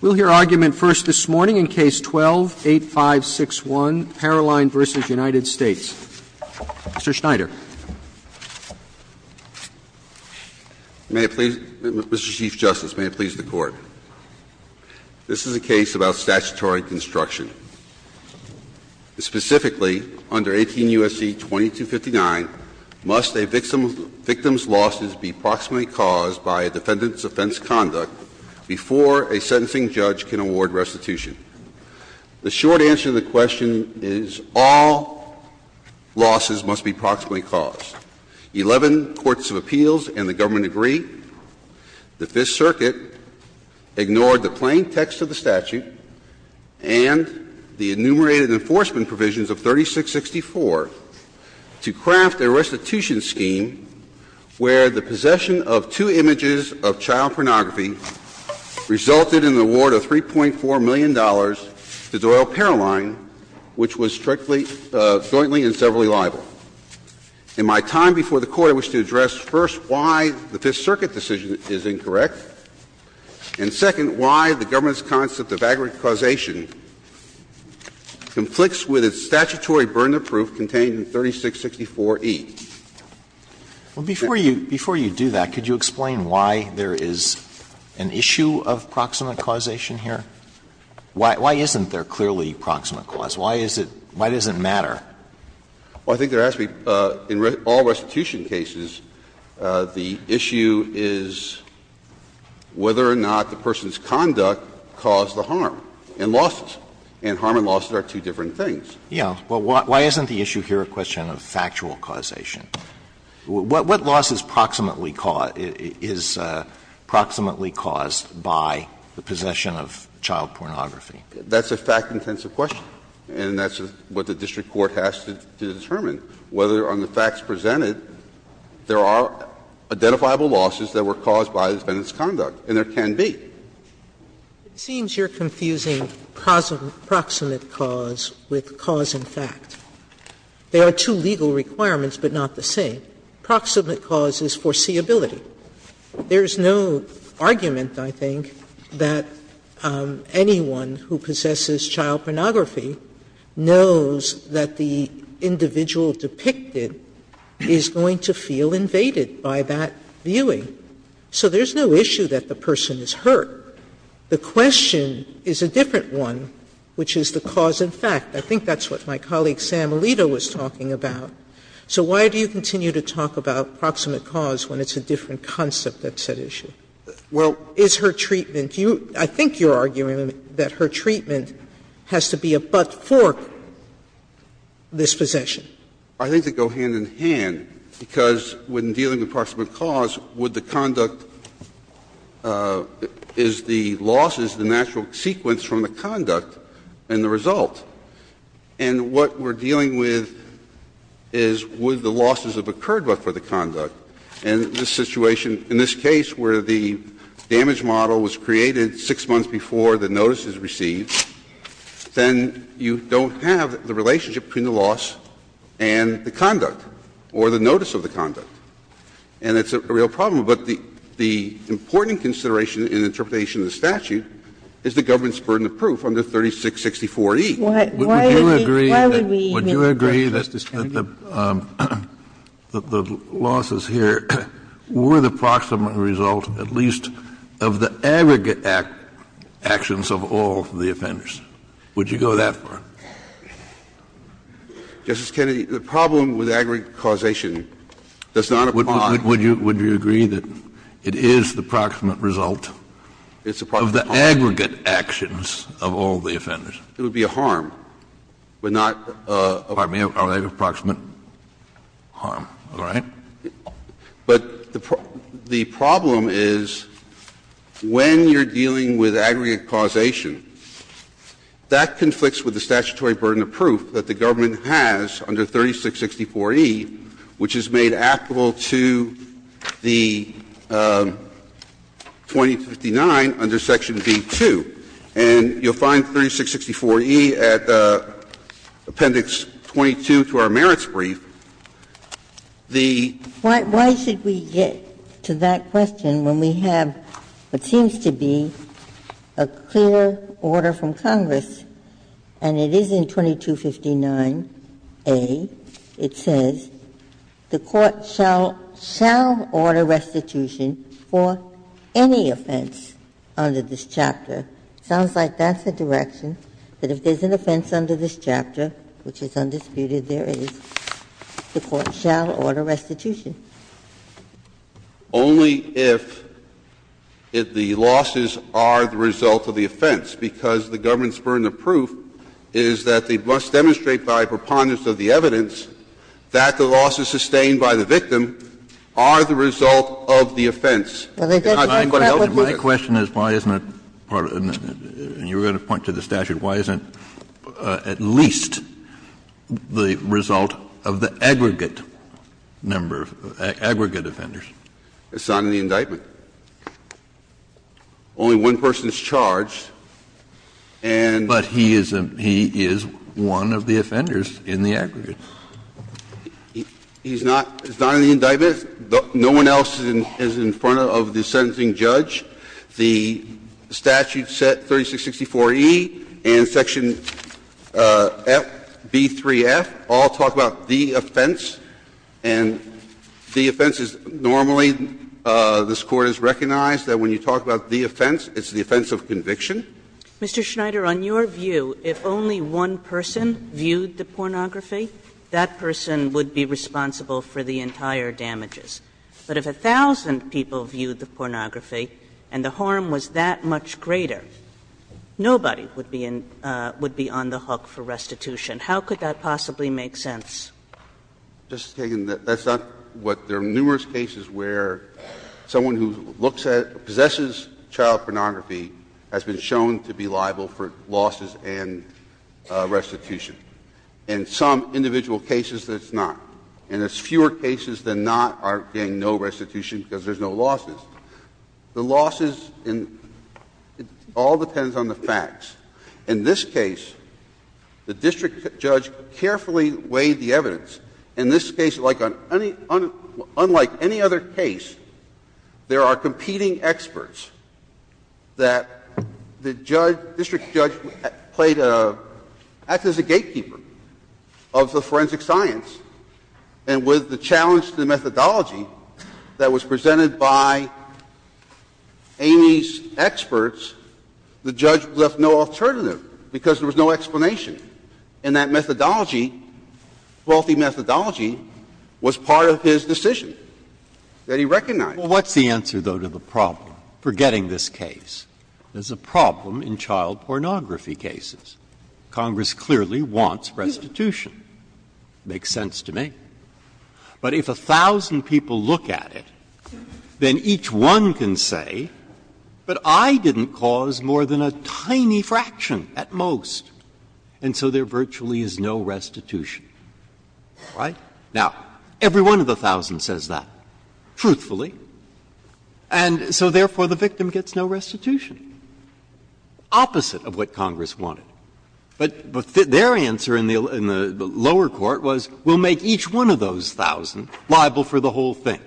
We'll hear argument first this morning in Case 12-8561, Paroline v. United States. Mr. Schneider. Mr. Chief Justice, may it please the Court. This is a case about statutory construction. Specifically, under 18 U.S.C. 2259, must a victim's losses be approximately caused by a defendant's offense conduct before a sentencing judge can award restitution? The short answer to the question is all losses must be approximately caused. Eleven courts of appeals and the government agree that this Circuit ignored the plain text of the statute and the enumerated enforcement provisions of 3664 to craft a restitution scheme where the possession of two images of child pornography resulted in the award of $3.4 million to Doyle Paroline, which was jointly and severally liable. In my time before the Court, I wish to address, first, why the Fifth Circuit decision is incorrect, and, second, why the government's concept of aggregated causation conflicts with its statutory burden of proof contained in 3664E. Alito, before you do that, could you explain why there is an issue of proximate causation here? Why isn't there clearly proximate cause? Why is it – why does it matter? Well, I think there has to be – in all restitution cases, the issue is whether or not the person's conduct caused the harm and losses, and harm and losses are two different things. Yeah. Well, why isn't the issue here a question of factual causation? What loss is proximately caused by the possession of child pornography? That's a fact-intensive question, and that's what the district court has to determine. Whether on the facts presented, there are identifiable losses that were caused by the defendant's conduct, and there can be. Sotomayor, it seems you're confusing proximate cause with cause in fact. There are two legal requirements, but not the same. Proximate cause is foreseeability. There is no argument, I think, that anyone who possesses child pornography knows that the individual depicted is going to feel invaded by that viewing. So there's no issue that the person is hurt. The question is a different one, which is the cause in fact. I think that's what my colleague Sam Alito was talking about. So why do you continue to talk about proximate cause when it's a different concept that's at issue? Is her treatment – I think you're arguing that her treatment has to be a but-fork dispossession. I think they go hand in hand, because when dealing with proximate cause, would the conduct is the losses, the natural sequence from the conduct and the result. And what we're dealing with is would the losses have occurred, but for the conduct. And in this situation, in this case where the damage model was created 6 months before the notice is received, then you don't have the relationship between the loss and the conduct or the notice of the conduct. And it's a real problem. But the important consideration in the interpretation of the statute is the government's burden of proof under 3664E. Why would we agree that the losses here were the proximate result, at least, of the aggregate actions of all the offenders? Would you go that far? Kennedy Would you agree that it is the proximate result of the aggregate actions of all the offenders? Lefkowitz It would be a harm, but not a harm. Kennedy Are they a proximate harm, all right? Lefkowitz But the problem is when you're dealing with aggregate causation, that conflicts with the statutory burden of proof that the government has under 3664E, which is made applicable to the 2259 under Section B-2. And you'll find 3664E at Appendix 22 to our merits brief. The Justice Ginsburg Why should we get to that question when we have, it seems to be, a clear order from Congress, and it is in 2259A. It says, the Court shall order restitution for any offense under this chapter. Sounds like that's the direction, that if there's an offense under this chapter, which is undisputed, there is, the Court shall order restitution. Lefkowitz Only if the losses are the result of the offense, because the government's by preponderance of the evidence, that the losses sustained by the victim are the result of the offense. Kennedy My question is, why isn't it part of the, you were going to point to the statute. Why isn't it at least the result of the aggregate number of, aggregate offenders? Lefkowitz It's not in the indictment. Only one person is charged, and Kennedy But he is a, he is one of the offenders in the aggregate. Lefkowitz He's not, it's not in the indictment. No one else is in front of the sentencing judge. The statute set 3664E and section FB3F all talk about the offense, and the offense is normally, this Court has recognized that when you talk about the offense, it's the offense of conviction. Kagan Mr. Schneider, on your view, if only one person viewed the pornography, that person would be responsible for the entire damages. But if a thousand people viewed the pornography and the harm was that much greater, nobody would be on the hook for restitution. How could that possibly make sense? Schneider Just, Kagan, that's not what, there are numerous cases where someone who looks at, possesses child pornography has been shown to be liable for losses and restitution. In some individual cases, it's not. And there's fewer cases than not are getting no restitution because there's no losses. The losses in, it all depends on the facts. In this case, like on any, unlike any other case, there are competing experts that the judge, district judge, played a, acted as a gatekeeper of the forensic science, and with the challenge to the methodology that was presented by Amy's experts, the judge left no alternative because there was no explanation. And that methodology, faulty methodology, was part of his decision that he recognized. Breyer What's the answer, though, to the problem? Forgetting this case. There's a problem in child pornography cases. Congress clearly wants restitution. Makes sense to me. But if a thousand people look at it, then each one can say, but I didn't cause more than a tiny fraction at most. And so there virtually is no restitution. Right? Now, every one of the thousand says that, truthfully, and so therefore, the victim gets no restitution, opposite of what Congress wanted. But their answer in the lower court was, we'll make each one of those thousand liable for the whole thing.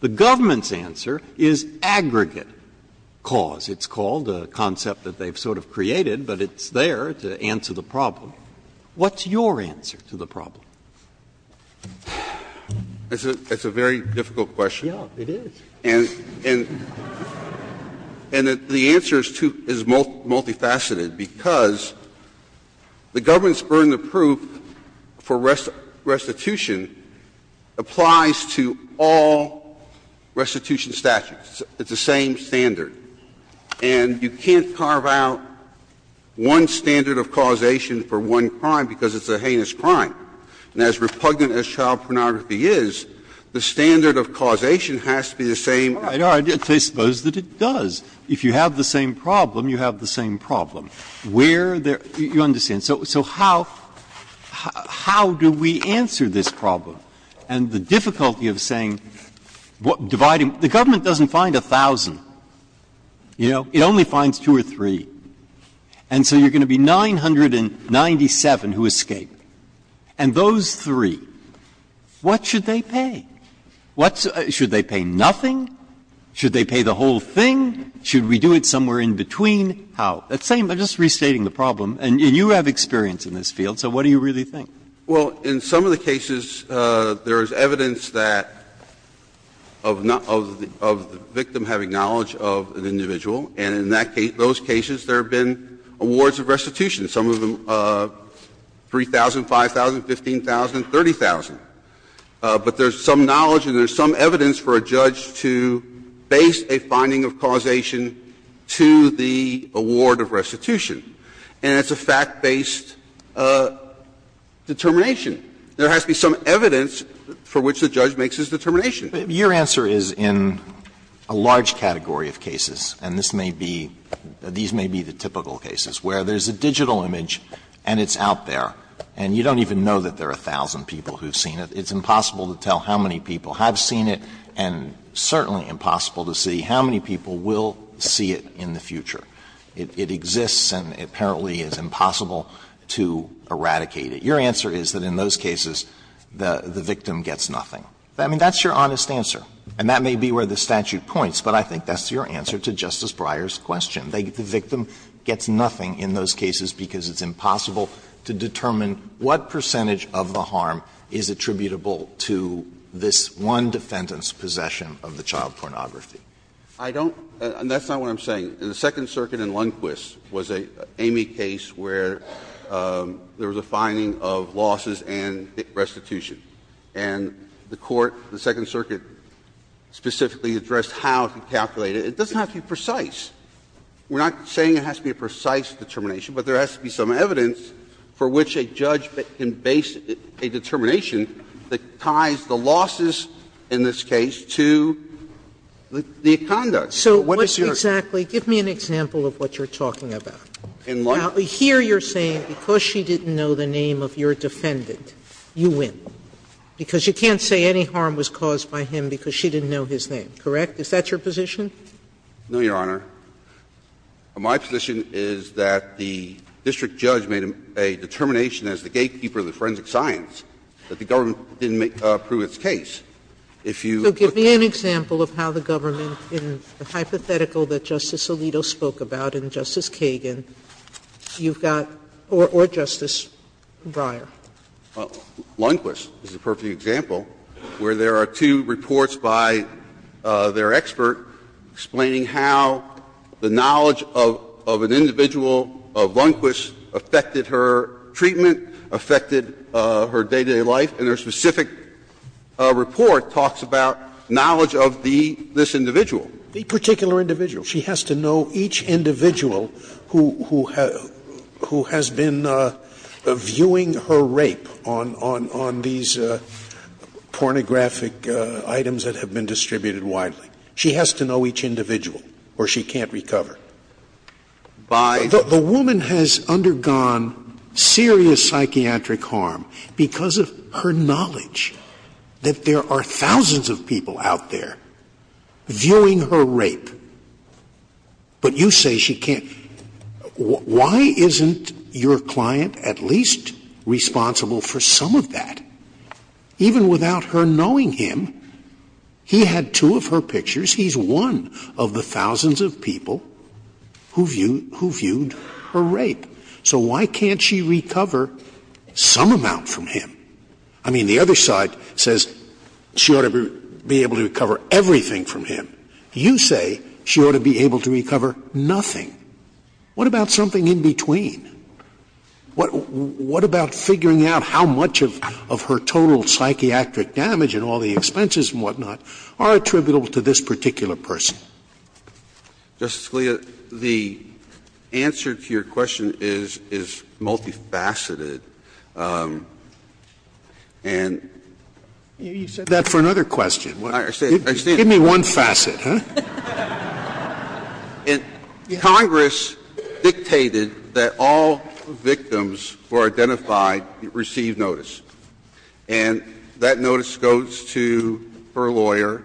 The government's answer is aggregate cause. It's called a concept that they've sort of created, but it's there to answer the problem. What's your answer to the problem? It's a very difficult question. And the answer is multifaceted, because the government's burden of proof for restitution applies to all restitution statutes. It's the same standard. And you can't carve out one standard of causation for one crime because it's a heinous crime. And as repugnant as child pornography is, the standard of causation has to be the same. Breyer. I suppose that it does. If you have the same problem, you have the same problem. Where there – you understand. So how do we answer this problem? And the difficulty of saying dividing – the government doesn't find a thousand. You know, it only finds two or three. And so you're going to be 997 who escape. And those three, what should they pay? What's – should they pay nothing? Should they pay the whole thing? Should we do it somewhere in between? How? That's the same. I'm just restating the problem. And you have experience in this field, so what do you really think? Well, in some of the cases, there is evidence that – of the victim having knowledge of an individual, and in that case, those cases, there have been awards of restitution, some of them 3,000, 5,000, 15,000, 30,000. But there's some knowledge and there's some evidence for a judge to base a finding of causation to the award of restitution. And it's a fact-based determination. There has to be some evidence for which the judge makes his determination. Alito, your answer is in a large category of cases, and this may be – these may be the typical cases where there's a digital image and it's out there, and you don't even know that there are a thousand people who have seen it. It's impossible to tell how many people have seen it and certainly impossible to see how many people will see it in the future. It exists and apparently is impossible to eradicate it. Your answer is that in those cases, the victim gets nothing. I mean, that's your honest answer, and that may be where the statute points, but I think that's your answer to Justice Breyer's question. The victim gets nothing in those cases because it's impossible to determine what percentage of the harm is attributable to this one defendant's possession of the child pornography. I don't – and that's not what I'm saying. In the Second Circuit in Lundquist was an Amey case where there was a finding of losses and restitution, and the court, the Second Circuit, specifically addressed how to calculate it. It doesn't have to be precise. We're not saying it has to be a precise determination, but there has to be some evidence for which a judge can base a determination that ties the losses in this case to the conduct. So what is your – Sotomayor, give me an example of what you're talking about. In Lundquist? Now here you're saying because she didn't know the name of your defendant, you win. Because you can't say any harm was caused by him because she didn't know his name, correct? Is that your position? No, Your Honor. My position is that the district judge made a determination as the gatekeeper of the forensic science that the government didn't approve its case. If you – So give me an example of how the government, in the hypothetical that Justice Alito spoke about and Justice Kagan, you've got – or Justice Breyer. Lundquist is a perfect example, where there are two reports by their expert explaining how the knowledge of an individual, of Lundquist, affected her treatment, affected her day-to-day life, and their specific report talks about knowledge of the – this individual. The particular individual. She has to know each individual who has been viewing her rape on these pornographic items that have been distributed widely. She has to know each individual, or she can't recover. By the woman has undergone serious trauma. She has undergone serious psychiatric harm because of her knowledge that there are thousands of people out there viewing her rape. But you say she can't. Why isn't your client at least responsible for some of that? Even without her knowing him, he had two of her pictures. He's one of the thousands of people who viewed her rape. So why can't she recover some amount from him? I mean, the other side says she ought to be able to recover everything from him. You say she ought to be able to recover nothing. What about something in between? What about figuring out how much of her total psychiatric damage and all the expenses and whatnot are attributable to this particular person? Justice Scalia, the answer to your question is multifaceted. And you said that for another question. Give me one facet, huh? Congress dictated that all victims who are identified receive notice. And that notice goes to her lawyer.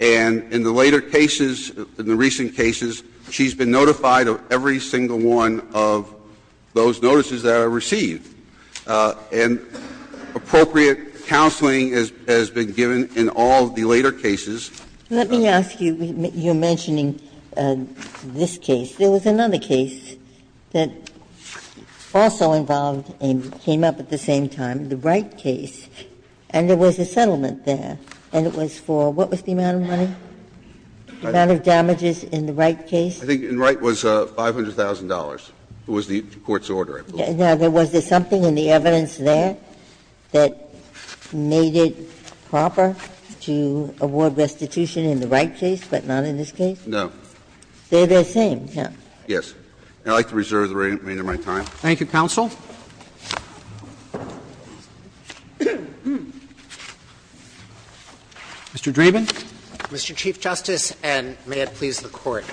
And in the later cases, in the recent cases, she's been notified of every single one of those notices that are received. And appropriate counseling has been given in all the later cases. Let me ask you, you're mentioning this case. There was another case that also involved and came up at the same time, the Wright case. And there was a settlement there, and it was for what was the amount of money? The amount of damages in the Wright case? I think in Wright it was $500,000. It was the court's order, I believe. Now, was there something in the evidence there that made it proper to award restitution in the Wright case, but not in this case? No. They're the same, yes. Yes. And I'd like to reserve the remainder of my time. Thank you, counsel. Mr. Dreeben. Mr. Chief Justice, and may it please the Court.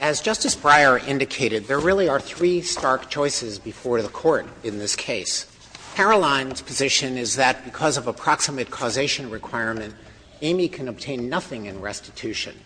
As Justice Breyer indicated, there really are three stark choices before the Court in this case. Caroline's position is that because of approximate causation requirement, Amy can obtain nothing in restitution.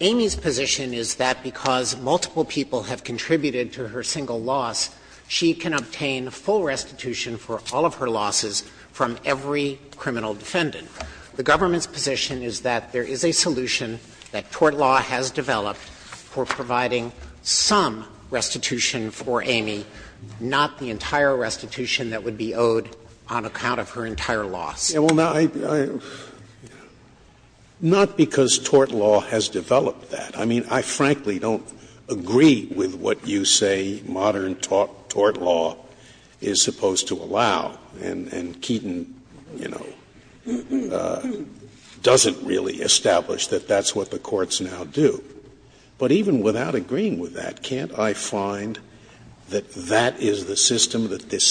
Amy's position is that because multiple people have contributed to her single loss, she can obtain full restitution for all of her losses from every criminal defendant. The government's position is that there is a solution that tort law has developed for providing some restitution for Amy, not the entire restitution that would be owed on account of her entire loss. Scalia, I mean, I frankly don't agree with what you say modern tort law is supposed to allow, and Keaton, you know, doesn't really establish that that's what the courts now do. But even without agreeing with that, can't I find that that is the system that this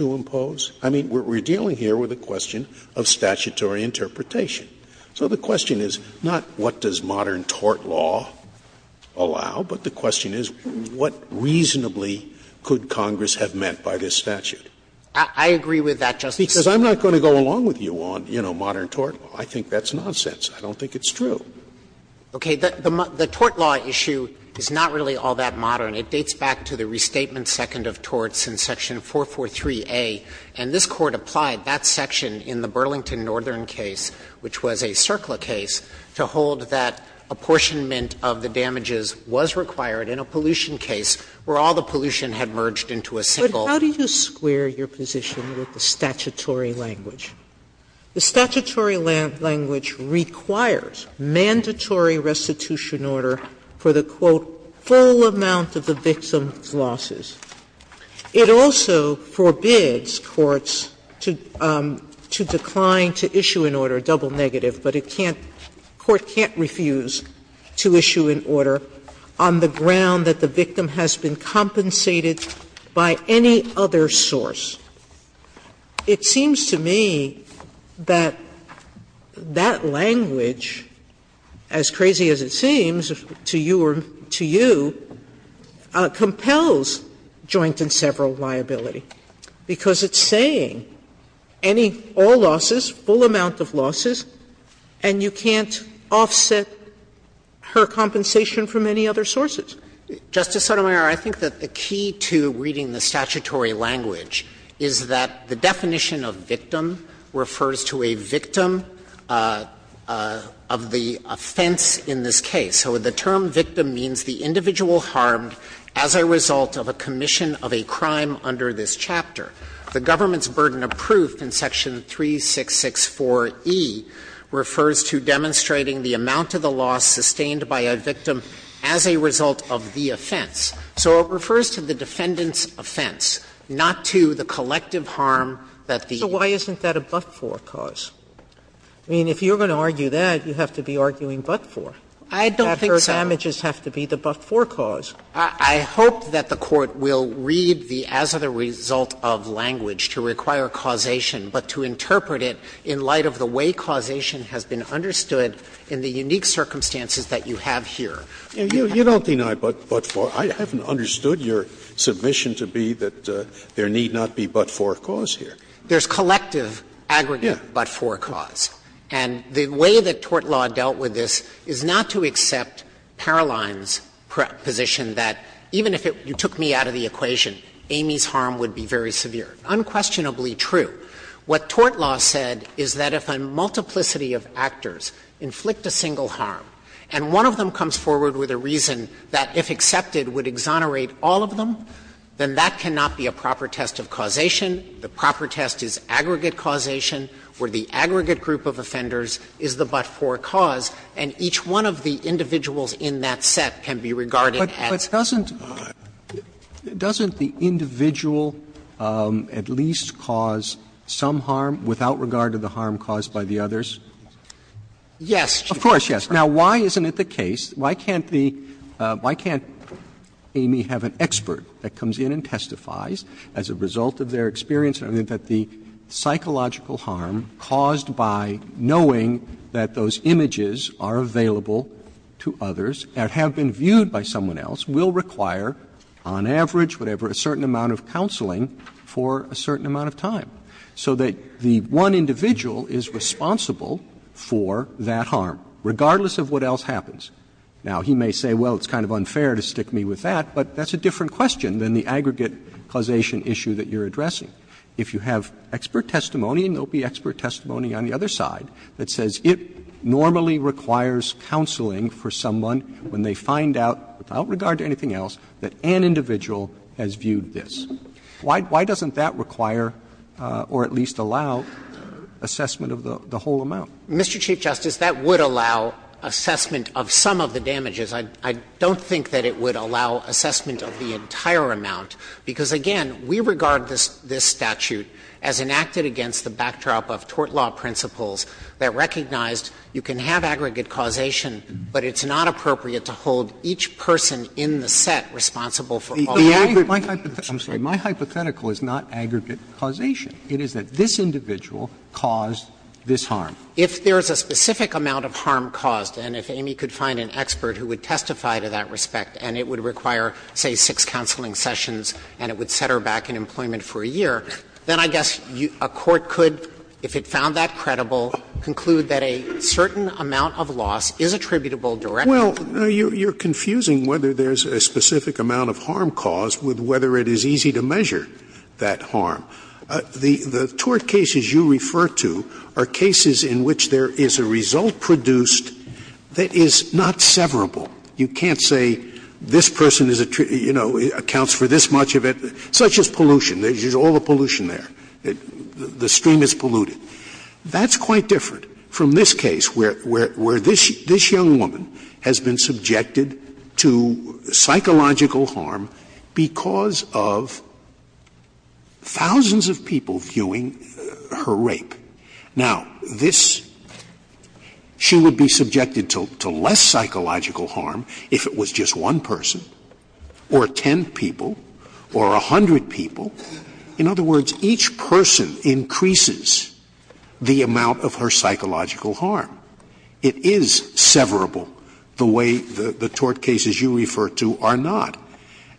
I mean, we're dealing here with a question of statutory interpretation. So the question is not what does modern tort law allow, but the question is what reasonably could Congress have meant by this statute. Dreeben I agree with that, Justice Scalia. Scalia Because I'm not going to go along with you on, you know, modern tort law. I think that's nonsense. I don't think it's true. Dreeben Okay. The tort law issue is not really all that modern. It dates back to the restatement second of torts in section 443a, and this Court applied that section in the Burlington Northern case, which was a CERCLA case, to hold that apportionment of the damages was required in a pollution case where all the pollution had merged into a single. Sotomayor But how do you square your position with the statutory language? Sotomayor Well, I mean, I think that the statute provides a full amount of the victim's losses. It also forbids courts to decline to issue an order, a double negative, but it can't the court can't refuse to issue an order on the ground that the victim has been compensated by any other source. It seems to me that that language, as crazy as it seems to you or to you, compels joint and several liability, because it's saying any, all losses, full amount of losses, and you can't offset her compensation from any other sources. Dreeben Justice Sotomayor, I think that the key to reading the statutory language is that the definition of victim refers to a victim of the offense in this case. So the term victim means the individual harmed as a result of a commission of a crime under this chapter. The government's burden of proof in section 3664e refers to demonstrating the amount of the loss sustained by a victim as a result of the offense. So it refers to the defendant's offense, not to the collective harm that the other person has caused. Sotomayor So why isn't that a but-for cause? I mean, if you're going to argue that, you have to be arguing but-for. Dreeben Justice Sotomayor, I don't think so. Sotomayor That her damages have to be the but-for cause. I hope that the Court will read the as-of-the-result-of language to require causation, but to interpret it in light of the way causation has been understood in the unique circumstances that you have here. Scalia You don't deny but-for. I haven't understood your submission to be that there need not be but-for cause here. Dreeben Justice Sotomayor, there's collective aggregate but-for cause. And the way that tort law dealt with this is not to accept Paroline's position that even if it you took me out of the equation, Amy's harm would be very severe. Unquestionably true. What tort law said is that if a multiplicity of actors inflict a single harm and one of them comes forward with a reason that, if accepted, would exonerate all of them, then that cannot be a proper test of causation. The proper test is aggregate causation, where the aggregate group of offenders is the but-for cause, and each one of the individuals in that set can be regarded as. Roberts Doesn't the individual at least cause some harm without regard to the harm caused by the others? Dreeben Justice Sotomayor, yes. Roberts Of course, yes. Now, why isn't it the case, why can't the why can't Amy have an expert that comes in and testifies as a result of their experience that the psychological harm caused by knowing that those images are available to others and have been viewed by someone else will require, on average, whatever, a certain amount of counseling for a certain amount of time, so that the one individual is responsible for that harm, regardless of what else happens? Now, he may say, well, it's kind of unfair to stick me with that, but that's a different question than the aggregate causation issue that you're addressing. If you have expert testimony, and there will be expert testimony on the other side that says it normally requires counseling for someone when they find out, without regard to anything else, that an individual has viewed this, why doesn't that require or at least allow assessment of the whole amount? Mr. Chief Justice, that would allow assessment of some of the damages. I don't think that it would allow assessment of the entire amount, because again, we regard this statute as enacted against the backdrop of tort law principles that recognized you can have aggregate causation, but it's not appropriate to hold each person in the set responsible for all the damages. Roberts I'm sorry. My hypothetical is not aggregate causation. It is that this individual caused this harm. If there is a specific amount of harm caused, and if Amy could find an expert who would testify to that respect, and it would require, say, six counseling sessions, and it would set her back in employment for a year, then I guess a court could, if it found that credible, conclude that a certain amount of loss is attributable directly to her. Scalia Well, you're confusing whether there's a specific amount of harm caused with whether it is easy to measure that harm. The tort cases you refer to are cases in which there is a result produced that is not severable. You can't say this person is, you know, accounts for this much of it, such as pollution. There's all the pollution there. The stream is polluted. That's quite different from this case where this young woman has been subjected to psychological harm because of thousands of people viewing her rape. Now, this she would be subjected to less psychological harm if it was just one person or ten people or a hundred people. In other words, each person increases the amount of her psychological harm. It is severable the way the tort cases you refer to are not.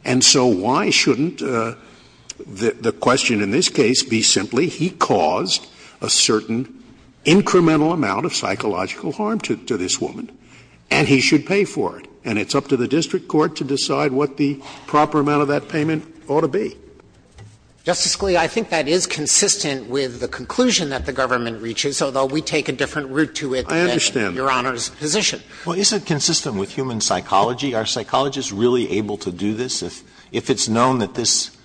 And so why shouldn't the question in this case be simply he caused a certain incremental amount of psychological harm to this woman, and he should pay for it? And it's up to the district court to decide what the proper amount of that payment ought to be. Justice Alito, I think that is consistent with the conclusion that the government reaches, although we take a different route to it than Your Honor's position. Well, is it consistent with human psychology? Are psychologists really able to do this if it's known that this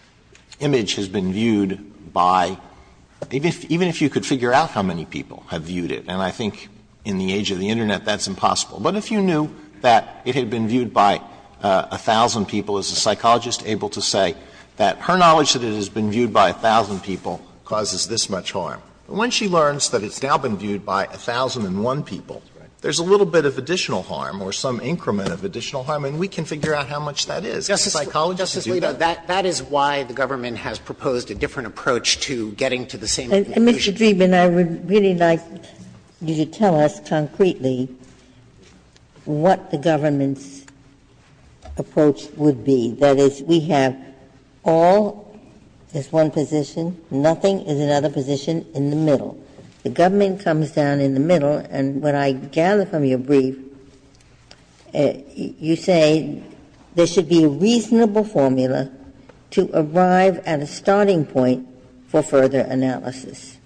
image has been viewed by — even if you could figure out how many people have viewed it, and I think in the age of the Internet that's impossible. But if you knew that it had been viewed by a thousand people, is a psychologist able to say that her knowledge that it has been viewed by a thousand people causes this much harm? When she learns that it's now been viewed by a thousand and one people, there's a little bit of additional harm or some increment of additional harm, and we can figure out how much that is. Psychologists can do that. Justice Alito, that is why the government has proposed a different approach to getting to the same conclusion. And, Mr. Dreeben, I would really like you to tell us concretely what the government's position should be. That is, we have all is one position, nothing is another position in the middle. The government comes down in the middle, and what I gather from your brief, you say there should be a reasonable formula to arrive at a starting point for further analysis.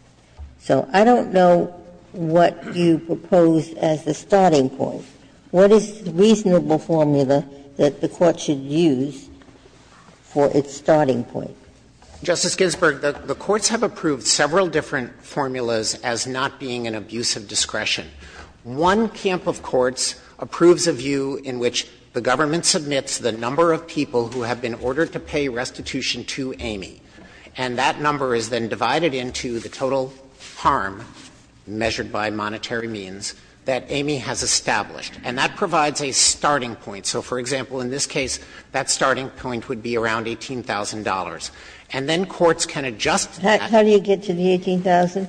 So I don't know what you propose as the starting point. What is the reasonable formula that the Court should use for its starting point? Dreeben, the courts have approved several different formulas as not being an abuse of discretion. One camp of courts approves a view in which the government submits the number of people who have been ordered to pay restitution to Amy, and that number is then divided into the total harm, measured by monetary means, that Amy has established. And that provides a starting point. So, for example, in this case, that starting point would be around $18,000. And then courts can adjust that. How do you get to the $18,000?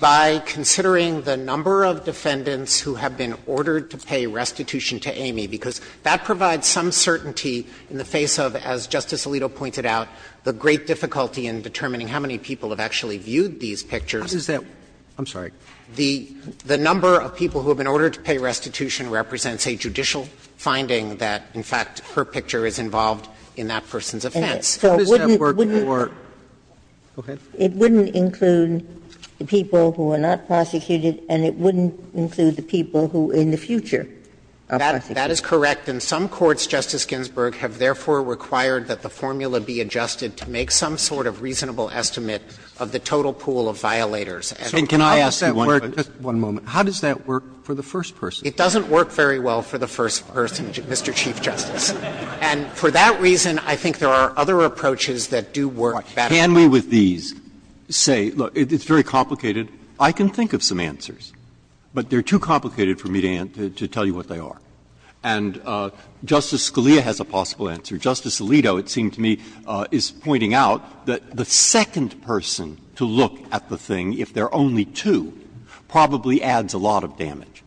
By considering the number of defendants who have been ordered to pay restitution to Amy, because that provides some certainty in the face of, as Justice Alito pointed out, the great difficulty in determining how many people have actually viewed these pictures. The number of people who have been ordered to pay restitution represents a judicial finding that, in fact, her picture is involved in that person's offense. Ginsburg, go ahead. It wouldn't include the people who are not prosecuted, and it wouldn't include the people who, in the future, are prosecuted. That is correct. In fact, in some courts, Justice Ginsburg, have therefore required that the formula be adjusted to make some sort of reasonable estimate of the total pool of violators. And I ask you one question. Roberts How does that work for the first person? Dreeben It doesn't work very well for the first person, Mr. Chief Justice. And for that reason, I think there are other approaches that do work better. Breyer Can we, with these, say, look, it's very complicated. I can think of some answers, but they're too complicated for me to tell you what they are. And Justice Scalia has a possible answer. Justice Alito, it seems to me, is pointing out that the second person to look at the thing, if there are only two, probably adds a lot of damage.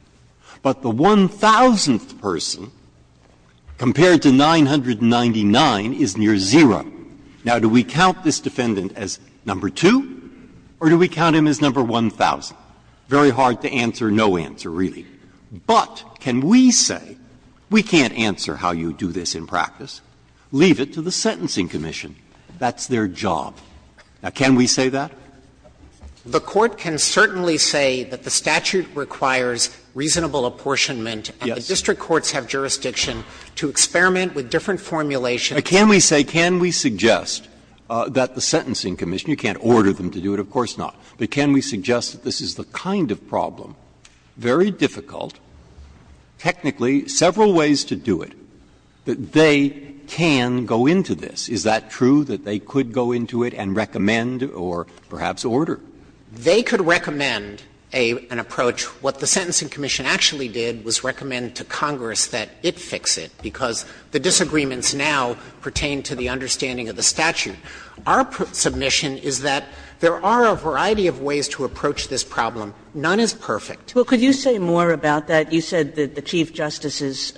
But the one thousandth person, compared to 999, is near zero. Now, do we count this defendant as number two, or do we count him as number 1,000? Very hard to answer no answer, really. But can we say, we can't answer how you do this in practice, leave it to the Sentencing Commission, that's their job. Now, can we say that? Dreeben The Court can certainly say that the statute requires reasonable apportionment. Breyer Yes. Dreeben And the district courts have jurisdiction to experiment with different formulations. Breyer Can we say, can we suggest that the Sentencing Commission, you can't order them to do it, of course not, but can we suggest that this is the kind of problem, very difficult, technically several ways to do it, that they can go into this? Is that true, that they could go into it and recommend or perhaps order? Dreeben They could recommend an approach. What the Sentencing Commission actually did was recommend to Congress that it fix it, because the disagreements now pertain to the understanding of the statute. Our submission is that there are a variety of ways to approach this problem. None is perfect. Kagan Well, could you say more about that? You said that the Chief Justice's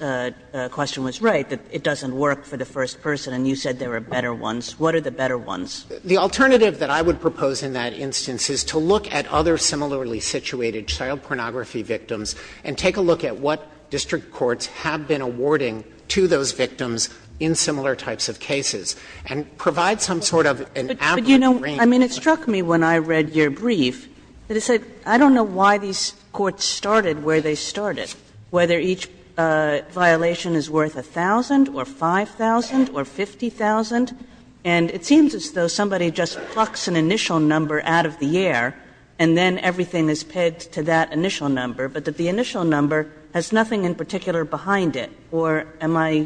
question was right, that it doesn't work for the first person, and you said there are better ones. What are the better ones? Dreeben The alternative that I would propose in that instance is to look at other similarly situated child pornography victims and take a look at what district courts have been awarding to those victims in similar types of cases and provide some sort of an average range. Kagan I mean, it struck me when I read your brief that it said, I don't know why these courts started where they started, whether each violation is worth a thousand or 5,000 or 50,000, and it seems as though somebody just plucks an initial number out of the air and then everything is pegged to that initial number, but that the initial number has nothing in particular behind it. Or am I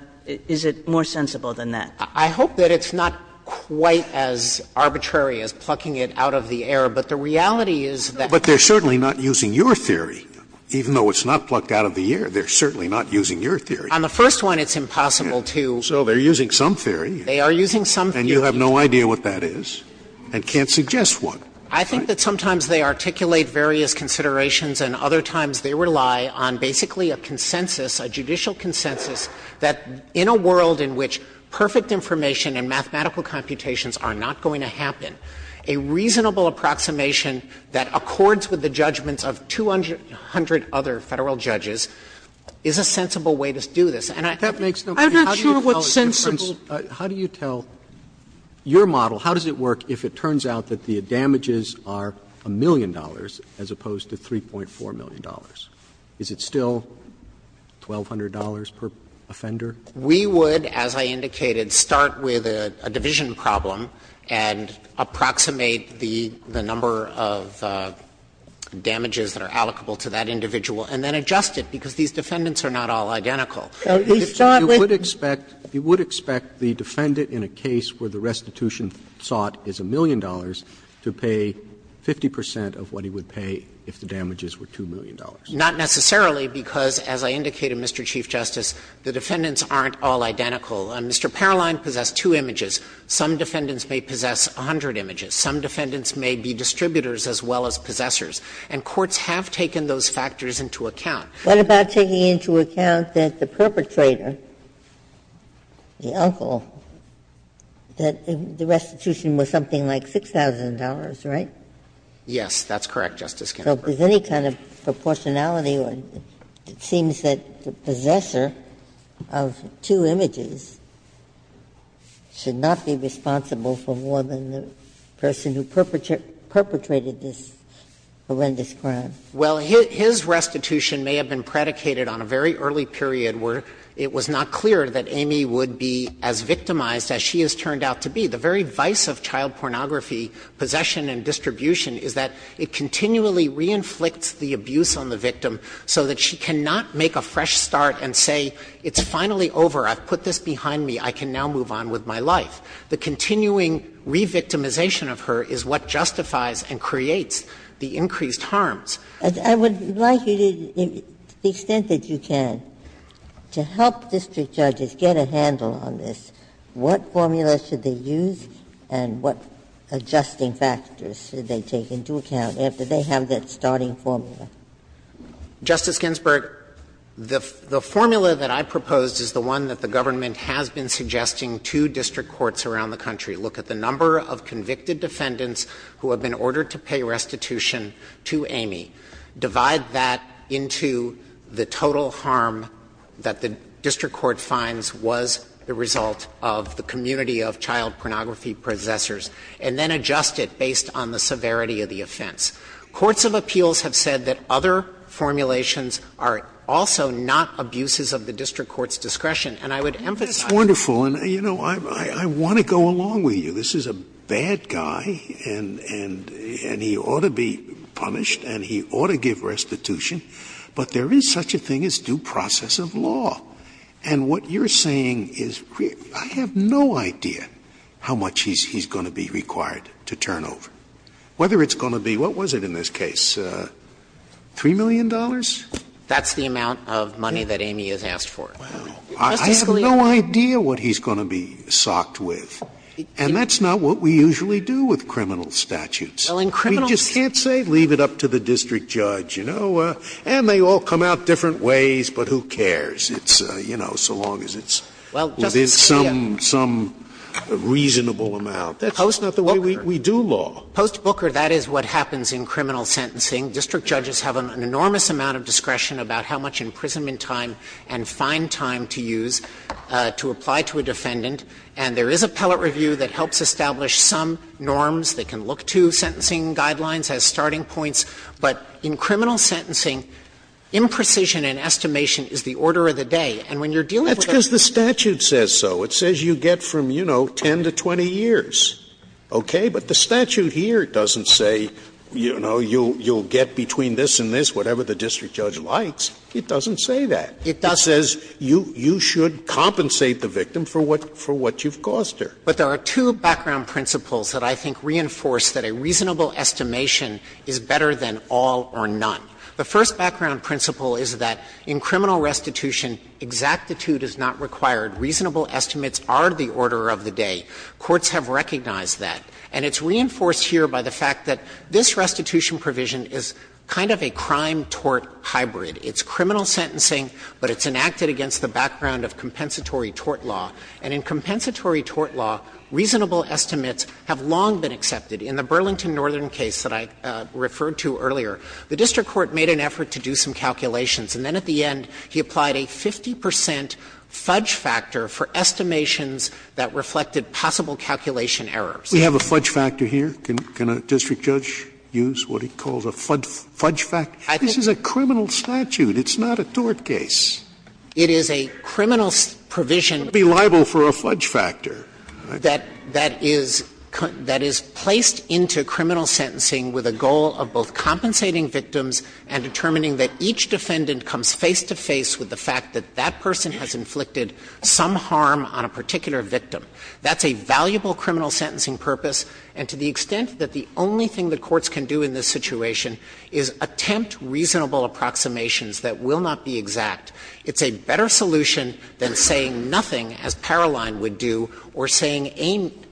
— is it more sensible than that? Dreeben I hope that it's not quite as arbitrary as plucking it out of the air, but the reality is that they're certainly not using your theory, even though it's not plucked out of the air. They're certainly not using your theory. Sotomayor On the first one, it's impossible to. Scalia So they're using some theory. Dreeben They are using some theory. Scalia And you have no idea what that is and can't suggest one, right? Dreeben I think that sometimes they articulate various considerations and other times they rely on basically a consensus, a judicial consensus that in a world in which perfect information and mathematical computations are not going to happen, a reasonable approximation that accords with the judgments of 200 other Federal judges is a sensible way to do this. And I think that makes no sense. Sotomayor I'm not sure what's sensible. Roberts How do you tell your model, how does it work if it turns out that the damages are a million dollars as opposed to $3.4 million? Is it still $1,200 per offender? Dreeben We would, as I indicated, start with a division problem and approximate the number of damages that are allocable to that individual and then adjust it, because these defendants are not all identical. Roberts You would expect the defendant in a case where the restitution sought is a million dollars to pay 50 percent of what he would pay if the damages were $2 million. Dreeben Not necessarily, because as I indicated, Mr. Chief Justice, the defendants aren't all identical. Mr. Paroline possessed two images. Some defendants may possess 100 images. Some defendants may be distributors as well as possessors. And courts have taken those factors into account. Ginsburg What about taking into account that the perpetrator, the uncle, that the restitution was something like $6,000, right? Dreeben Yes, that's correct, Justice Ginsburg. Ginsburg So if there's any kind of proportionality, it seems that the possessor of two images should not be responsible for more than the person who perpetrated this horrendous crime. Dreeben Well, his restitution may have been predicated on a very early period where it was not clear that Amy would be as victimized as she has turned out to be. The very vice of child pornography, possession and distribution, is that it continually reinflicts the abuse on the victim so that she cannot make a fresh start and say, it's finally over, I've put this behind me, I can now move on with my life. The continuing re-victimization of her is what justifies and creates the increased harms. Ginsburg I would like you to, to the extent that you can, to help district judges get a handle on this, what formula should they use and what adjusting factors should they take into account after they have that starting formula? Dreeben Justice Ginsburg, the formula that I proposed is the one that the government has been suggesting to district courts around the country. Look at the number of convicted defendants who have been ordered to pay restitution to Amy. Divide that into the total harm that the district court finds was the result of the severity of the offense. Courts of appeals have said that other formulations are also not abuses of the district court's discretion. And I would emphasize that. Scalia That's wonderful. And, you know, I want to go along with you. This is a bad guy and he ought to be punished and he ought to give restitution. But there is such a thing as due process of law. And what you're saying is, I have no idea how much he's going to be required to turn over. Whether it's going to be, what was it in this case, $3 million? Dreeben That's the amount of money that Amy has asked for. Scalia I have no idea what he's going to be socked with. And that's not what we usually do with criminal statutes. We just can't say, leave it up to the district judge, you know. And they all come out different ways, but who cares? It's, you know, so long as it's within some reasonable amount. That's not the way we do law. Dreeben Well, Post Booker, that is what happens in criminal sentencing. District judges have an enormous amount of discretion about how much imprisonment time and fine time to use to apply to a defendant. And there is a pellet review that helps establish some norms. They can look to sentencing guidelines as starting points. But in criminal sentencing, imprecision and estimation is the order of the day. And when you're dealing with a case of a criminal statute, it's the order of the day. Scalia That's because the statute says so. It says you get from, you know, 10 to 20 years, okay? But the statute here doesn't say, you know, you'll get between this and this, whatever the district judge likes. It doesn't say that. Dreeben It does. Scalia It says you should compensate the victim for what you've cost her. Dreeben But there are two background principles that I think reinforce that a reasonable estimation is better than all or none. The first background principle is that in criminal restitution, exactitude is not required. Reasonable estimates are the order of the day. Courts have recognized that. And it's reinforced here by the fact that this restitution provision is kind of a crime-tort hybrid. It's criminal sentencing, but it's enacted against the background of compensatory tort law. And in compensatory tort law, reasonable estimates have long been accepted. In the Burlington Northern case that I referred to earlier, the district court made an effort to do some calculations, and then at the end he applied a 50 percent fudge factor for estimations that reflected possible calculation errors. Scalia We have a fudge factor here. Can a district judge use what he calls a fudge factor? This is a criminal statute. It's not a tort case. Dreeben It is a criminal provision. Scalia It wouldn't be liable for a fudge factor. Dreeben That is placed into criminal sentencing with a goal of both compensating victims and determining that each defendant comes face to face with the fact that that person has inflicted some harm on a particular victim. That's a valuable criminal sentencing purpose, and to the extent that the only thing the courts can do in this situation is attempt reasonable approximations that will not be exact, it's a better solution than saying nothing, as Paroline would do, or saying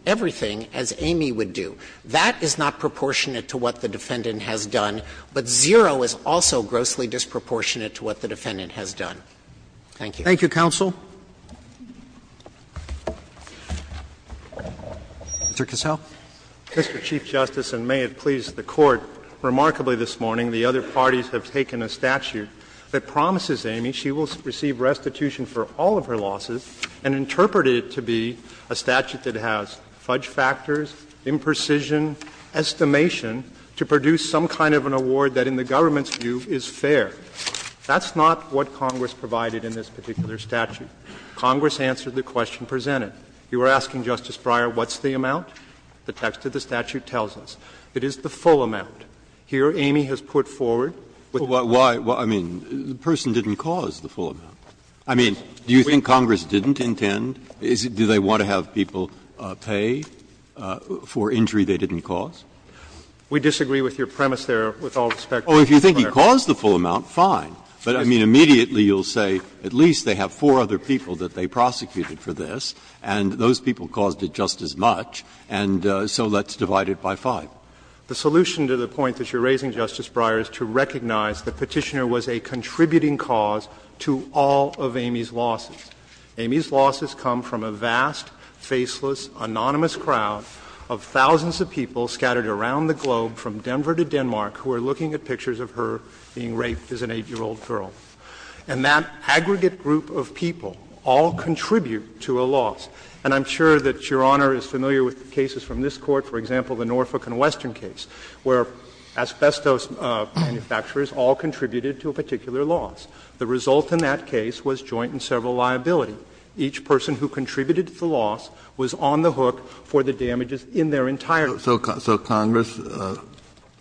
everything, as Amy would do. That is not proportionate to what the defendant has done, but zero is also grossly Thank you. Roberts Thank you, counsel. Mr. Cassell. Cassell Mr. Chief Justice, and may it please the Court, remarkably this morning the other parties have taken a statute that promises Amy she will receive restitution for all of her losses and interpreted it to be a statute that has fudge factors, imprecision, estimation to produce some kind of an award that in the government's view is fair. That's not what Congress provided in this particular statute. Congress answered the question presented. You were asking, Justice Breyer, what's the amount? The text of the statute tells us it is the full amount. Here Amy has put forward. Breyer I mean, the person didn't cause the full amount. I mean, do you think Congress didn't intend? Do they want to have people pay for injury they didn't cause? Cassell We disagree with your premise there with all respect to the program. Breyer Because the full amount, fine. But I mean, immediately you'll say at least they have four other people that they prosecuted for this, and those people caused it just as much, and so let's divide it by five. Cassell The solution to the point that you're raising, Justice Breyer, is to recognize the Petitioner was a contributing cause to all of Amy's losses. Amy's losses come from a vast, faceless, anonymous crowd of thousands of people scattered around the globe from Denver to Denmark who are looking at pictures of her being raped as an 8-year-old girl. And that aggregate group of people all contribute to a loss. And I'm sure that Your Honor is familiar with the cases from this Court, for example, the Norfolk and Western case, where asbestos manufacturers all contributed to a particular loss. The result in that case was joint and several liability. Each person who contributed to the loss was on the hook for the damages in their entire life. Kennedy So Congress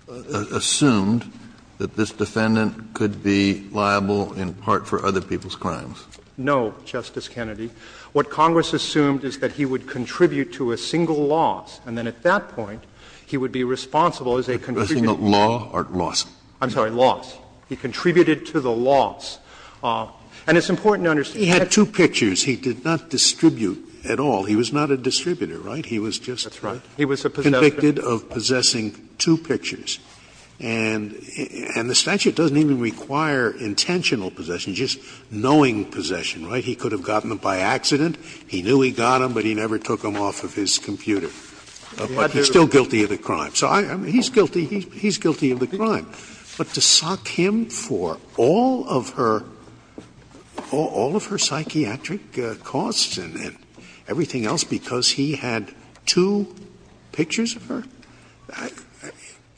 assumed that this defendant could be liable in part for other people's crimes. Cassell No, Justice Kennedy. What Congress assumed is that he would contribute to a single loss, and then at that point he would be responsible as a contributing cause. Kennedy A single law or loss? Cassell I'm sorry, loss. He contributed to the loss. And it's important to understand that. Scalia He had two pictures. He did not distribute at all. He was not a distributor, right? He was just a contributor. He was convicted of possessing two pictures. And the statute doesn't even require intentional possession, just knowing possession, right? He could have gotten them by accident. He knew he got them, but he never took them off of his computer. But he's still guilty of the crime. So I mean, he's guilty. He's guilty of the crime. But to sock him for all of her, all of her psychiatric costs and everything else because he had two pictures of her,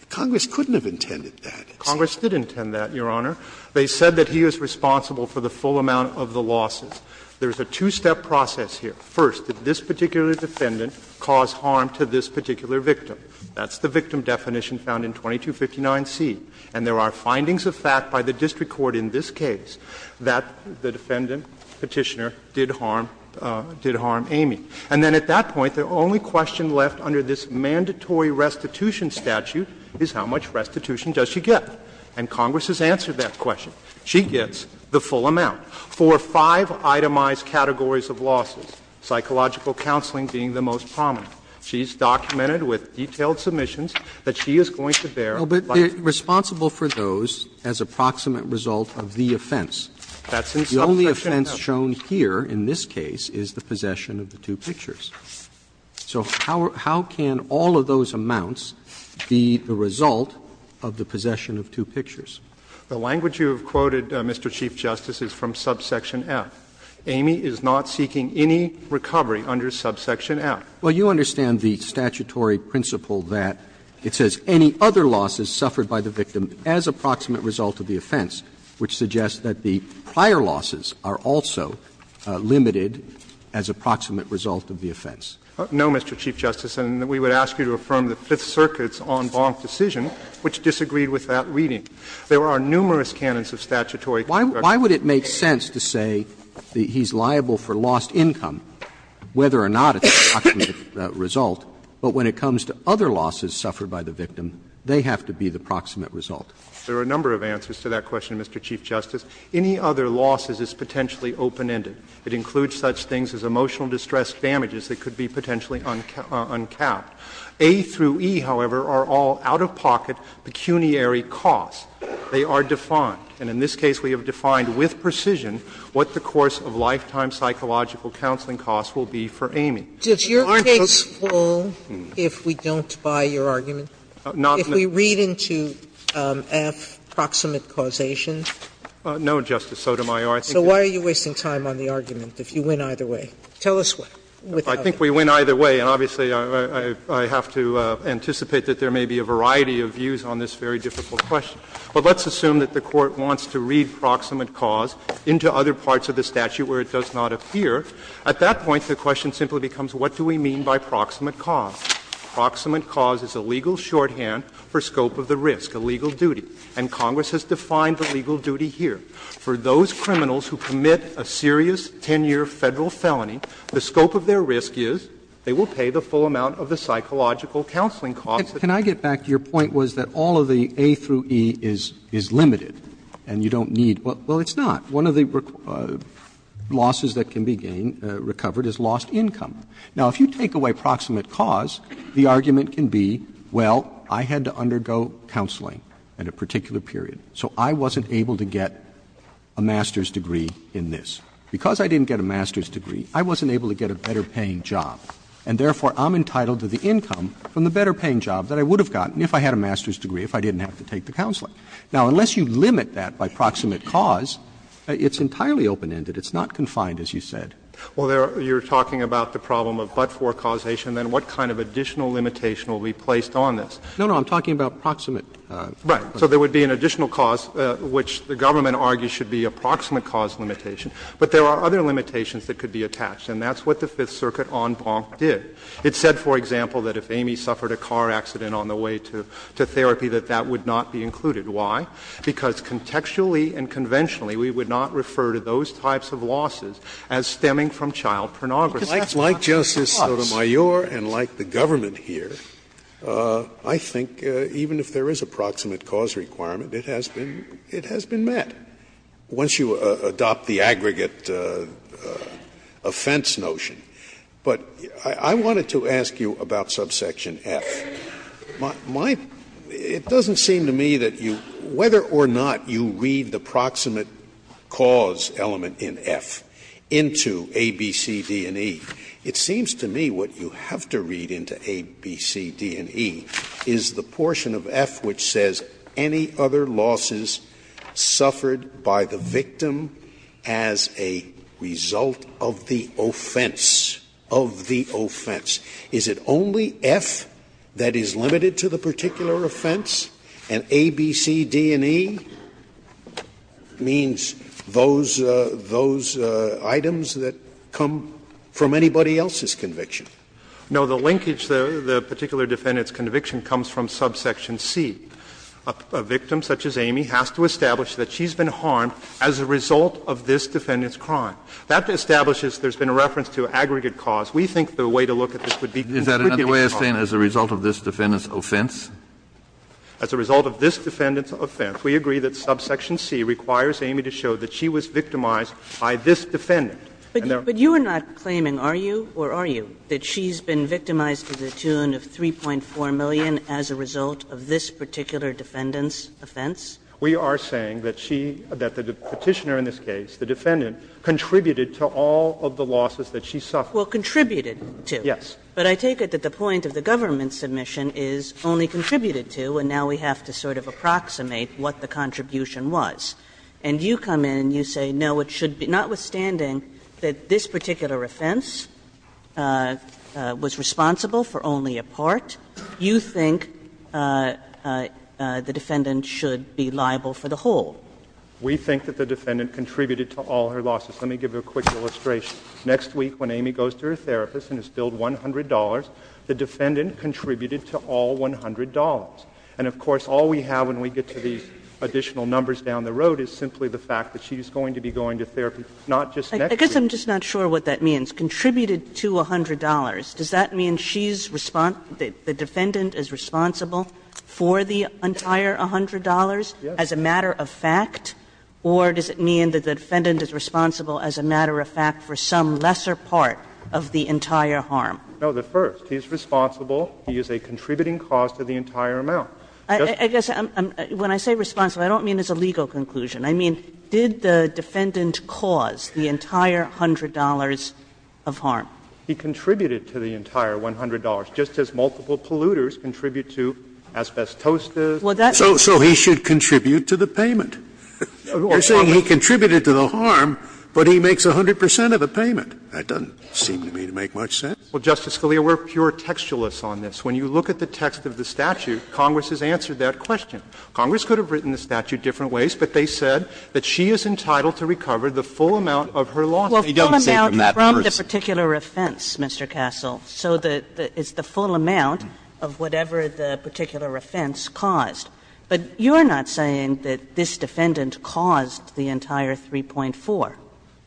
Congress couldn't have intended that. Cassell Congress did intend that, Your Honor. They said that he was responsible for the full amount of the losses. There is a two-step process here. First, did this particular defendant cause harm to this particular victim? That's the victim definition found in 2259C. And there are findings of fact by the district court in this case that the defendant Petitioner did harm Amy. And then at that point, the only question left under this mandatory restitution statute is how much restitution does she get? And Congress has answered that question. She gets the full amount for five itemized categories of losses, psychological counseling being the most prominent. She's documented with detailed submissions that she is going to bear liability. Roberts, responsible for those as a proximate result of the offense. The only offense shown here in this case is the possession of the two pictures. So how can all of those amounts be the result of the possession of two pictures? The language you have quoted, Mr. Chief Justice, is from subsection F. Amy is not seeking any recovery under subsection F. Well, you understand the statutory principle that it says any other losses suffered by the victim as a proximate result of the offense, which suggests that the prior losses are also limited as a proximate result of the offense. No, Mr. Chief Justice. And we would ask you to affirm the Fifth Circuit's en banc decision, which disagreed with that reading. There are numerous canons of statutory correction. Why would it make sense to say that he's liable for lost income, whether or not it's a proximate result, but when it comes to other losses suffered by the victim, they have to be the proximate result? There are a number of answers to that question, Mr. Chief Justice. Any other loss is potentially open-ended. It includes such things as emotional distress damages that could be potentially uncapped. A through E, however, are all out-of-pocket pecuniary costs. They are defined. And in this case we have defined with precision what the course of lifetime psychological counseling costs will be for Amy. Aren't those? Sotomayor, I think you're wasting time on the argument. If we pull, if we don't buy your argument, if we read into F, proximate causation. No, Justice Sotomayor. So why are you wasting time on the argument, if you win either way? Tell us why. I think we win either way, and obviously I have to anticipate that there may be a variety of views on this very difficult question. But let's assume that the Court wants to read proximate cause into other parts of the case. Proximate cause is a legal shorthand for scope of the risk, a legal duty. And Congress has defined the legal duty here. For those criminals who commit a serious 10-year Federal felony, the scope of their risk is they will pay the full amount of the psychological counseling costs. Can I get back to your point was that all of the A through E is limited and you don't need to? Well, it's not. One of the losses that can be gained, recovered, is lost income. Now, if you take away proximate cause, the argument can be, well, I had to undergo counseling at a particular period, so I wasn't able to get a master's degree in this. Because I didn't get a master's degree, I wasn't able to get a better paying job, and therefore I'm entitled to the income from the better paying job that I would have gotten if I had a master's degree, if I didn't have to take the counseling. Now, unless you limit that by proximate cause, it's entirely open-ended. It's not confined, as you said. Well, you're talking about the problem of but-for causation. Then what kind of additional limitation will be placed on this? No, no. I'm talking about proximate. Right. So there would be an additional cause, which the government argues should be a proximate cause limitation. But there are other limitations that could be attached, and that's what the Fifth Circuit en banc did. It said, for example, that if Amy suffered a car accident on the way to therapy, that that would not be included. Why? Because contextually and conventionally, we would not refer to those types of losses as stemming from child pornography. Because that's not the cause. Scalia, like Justice Sotomayor and like the government here, I think even if there is a proximate cause requirement, it has been met, once you adopt the aggregate offense notion. But I wanted to ask you about subsection F. It doesn't seem to me that you, whether or not you read the proximate cause element in F into A, B, C, D, and E, it seems to me what you have to read into A, B, C, D, and E is the portion of F which says any other losses suffered by the victim as a result of the offense, of the offense. Is it only F that is limited to the particular offense? And A, B, C, D, and E means those items that come from anybody else's conviction? No, the linkage there, the particular defendant's conviction, comes from subsection C. A victim such as Amy has to establish that she's been harmed as a result of this defendant's crime. That establishes there's been a reference to aggregate cause. We think the way to look at this would be to look at the aggregate cause. Kennedy is that another way of saying as a result of this defendant's offense? As a result of this defendant's offense, we agree that subsection C requires Amy to show that she was victimized by this defendant. And there are other ways of saying that she was victimized by this defendant. Kagan, but you are not claiming, are you, or are you, that she's been victimized to the tune of 3.4 million as a result of this particular defendant's offense? We are saying that she, that the Petitioner in this case, the defendant, contributed to all of the losses that she suffered. Well, contributed to. Yes. But I take it that the point of the government submission is only contributed to, and now we have to sort of approximate what the contribution was. And you come in and you say, no, it should be, notwithstanding that this particular offense was responsible for only a part, you think the defendant should be liable for the whole. We think that the defendant contributed to all her losses. Let me give you a quick illustration. Next week, when Amy goes to her therapist and is billed $100, the defendant contributed to all $100. And, of course, all we have when we get to the additional numbers down the road is simply the fact that she is going to be going to therapy not just next week. I guess I'm just not sure what that means. Contributed to $100. Does that mean she's responsible, the defendant is responsible for the entire $100 as a matter of fact? Or does it mean that the defendant is responsible as a matter of fact for some lesser part of the entire harm? No, the first. He's responsible. He is a contributing cause to the entire amount. I guess when I say responsible, I don't mean as a legal conclusion. I mean, did the defendant cause the entire $100 of harm? He contributed to the entire $100, just as multiple polluters contribute to asbestos disposals. So he should contribute to the payment. You're saying he contributed to the harm, but he makes 100 percent of the payment. That doesn't seem to me to make much sense. Well, Justice Scalia, we're pure textualists on this. When you look at the text of the statute, Congress has answered that question. Congress could have written the statute different ways, but they said that she is entitled to recover the full amount of her losses. He doesn't say from that person. Well, the full amount from the particular offense, Mr. Castle. So it's the full amount of whatever the particular offense caused. But you're not saying that this defendant caused the entire 3.4.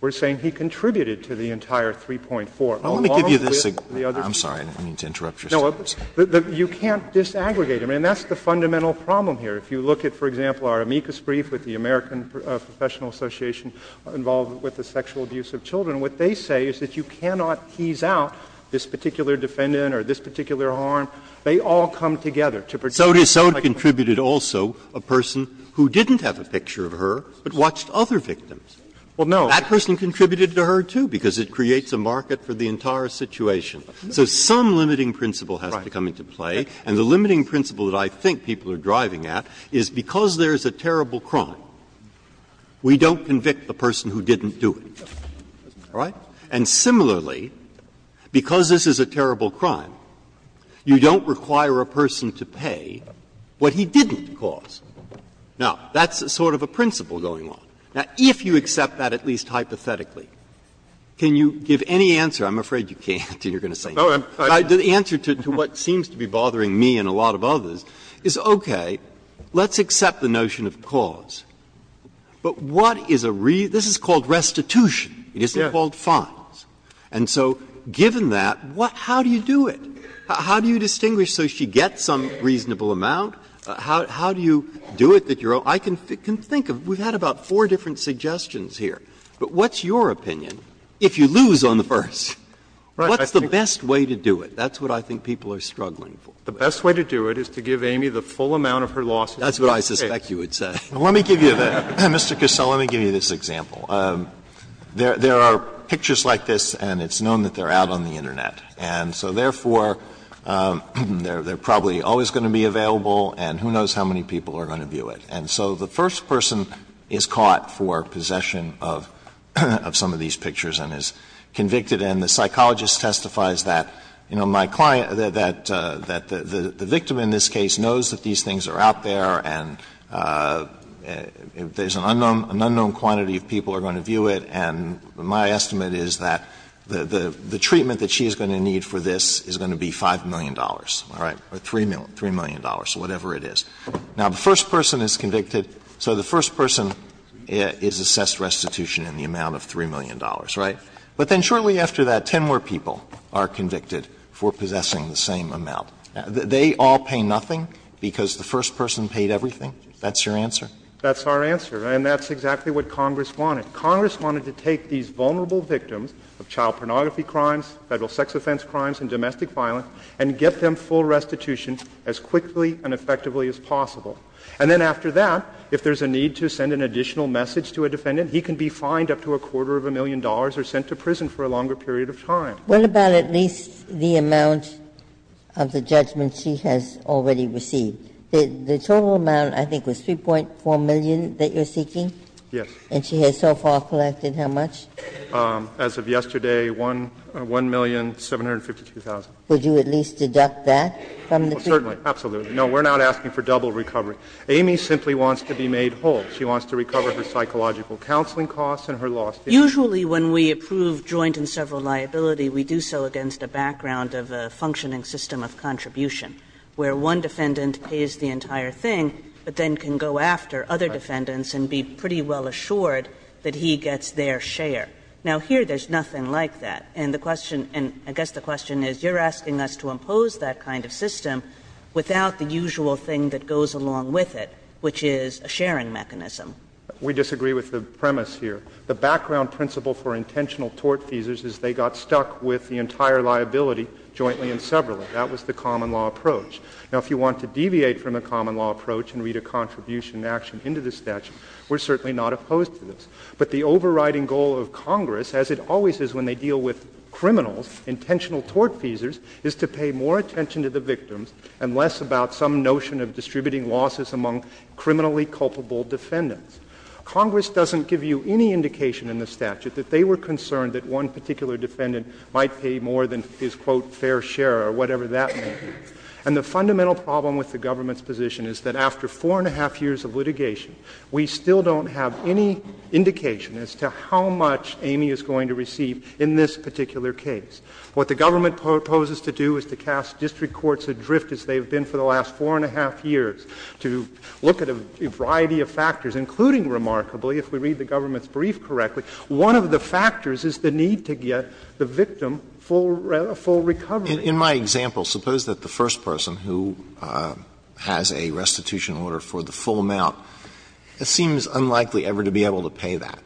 We're saying he contributed to the entire 3.4. I want to give you this. I'm sorry. I didn't mean to interrupt your statement. You can't disaggregate them. And that's the fundamental problem here. If you look at, for example, our amicus brief with the American Professional Association involved with the sexual abuse of children, what they say is that you They all come together to produce something like this. And so did Soda contributed also a person who didn't have a picture of her, but watched other victims. That person contributed to her, too, because it creates a market for the entire situation. So some limiting principle has to come into play. And the limiting principle that I think people are driving at is because there is a terrible crime, we don't convict the person who didn't do it. All right? And similarly, because this is a terrible crime, you don't require a person to pay what he didn't cause. Now, that's sort of a principle going on. Now, if you accept that at least hypothetically, can you give any answer? I'm afraid you can't, and you're going to say no. The answer to what seems to be bothering me and a lot of others is, okay, let's accept the notion of cause. But what is a reason? This is called restitution. It isn't called fines. And so given that, how do you do it? How do you distinguish so she gets some reasonable amount? How do you do it that you're all right? I can think of we've had about four different suggestions here. But what's your opinion? If you lose on the first, what's the best way to do it? That's what I think people are struggling for. The best way to do it is to give Amy the full amount of her loss. That's what I suspect you would say. Let me give you that. Mr. Cassell, let me give you this example. There are pictures like this, and it's known that they're out on the Internet. And so therefore, they're probably always going to be available, and who knows how many people are going to view it. And so the first person is caught for possession of some of these pictures and is convicted. And the psychologist testifies that, you know, my client, that the victim in this case knows that these things are out there and there's an unknown quantity of people who are going to view it, and my estimate is that the treatment that she is going to need for this is going to be $5 million, all right, or $3 million, whatever it is. Now, the first person is convicted, so the first person is assessed restitution in the amount of $3 million, right? But then shortly after that, 10 more people are convicted for possessing the same amount. They all pay nothing because the first person paid everything? That's your answer? That's our answer, and that's exactly what Congress wanted. Congress wanted to take these vulnerable victims of child pornography crimes, federal sex offense crimes, and domestic violence, and get them full restitution as quickly and effectively as possible. And then after that, if there's a need to send an additional message to a defendant, he can be fined up to a quarter of a million dollars or sent to prison for a longer period of time. Ginsburg. What about at least the amount of the judgment she has already received? The total amount, I think, was $3.4 million that you're seeking? Yes. And she has so far collected how much? As of yesterday, $1,752,000. Would you at least deduct that from the fee? Certainly. Absolutely. No, we're not asking for double recovery. Amy simply wants to be made whole. She wants to recover her psychological counseling costs and her lost income. Usually when we approve joint and several liability, we do so against a background of a functioning system of contribution, where one defendant pays the entire thing but then can go after other defendants and be pretty well assured that he gets their share. Now, here there's nothing like that. And the question, and I guess the question is, you're asking us to impose that kind of system without the usual thing that goes along with it, which is a sharing mechanism. We disagree with the premise here. The background principle for intentional tort theses is they got stuck with the entire liability jointly and severally. That was the common law approach. Now, if you want to deviate from the common law approach and read a contribution action into the statute, we're certainly not opposed to this. But the overriding goal of Congress, as it always is when they deal with criminals, intentional tort thesers, is to pay more attention to the victims and less about some notion of distributing losses among criminally culpable defendants. Congress doesn't give you any indication in the statute that they were concerned that one particular defendant might pay more than his, quote, fair share or whatever that may be. And the fundamental problem with the government's position is that after four and a half years, there is no indication as to how much Amy is going to receive in this particular case. What the government proposes to do is to cast district courts adrift, as they have been for the last four and a half years, to look at a variety of factors, including remarkably, if we read the government's brief correctly, one of the factors is the need to get the victim full recovery. Alito In my example, suppose that the first person who has a restitution order for the full amount, it seems unlikely ever to be able to pay that.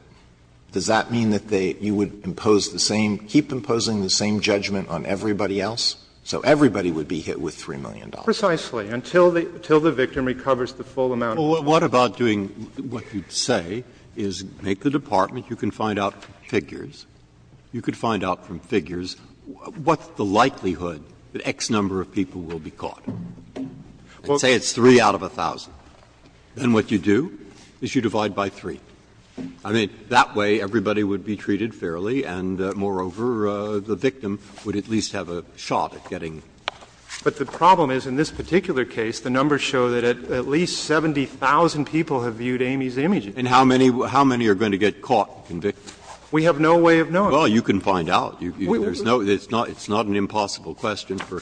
Does that mean that they you would impose the same, keep imposing the same judgment on everybody else? So everybody would be hit with $3 million. Breyer Precisely, until the victim recovers the full amount. Breyer Well, what about doing what you'd say is make the department, you can find out figures, you could find out from figures what's the likelihood that X number of people will be caught? And say it's 3 out of 1,000. Then what you do is you divide by 3. I mean, that way everybody would be treated fairly and, moreover, the victim would at least have a shot at getting. Alito But the problem is in this particular case, the numbers show that at least 70,000 people have viewed Amy's images. Breyer And how many are going to get caught? Alito We have no way of knowing. Breyer Well, you can find out. There's no, it's not an impossible question for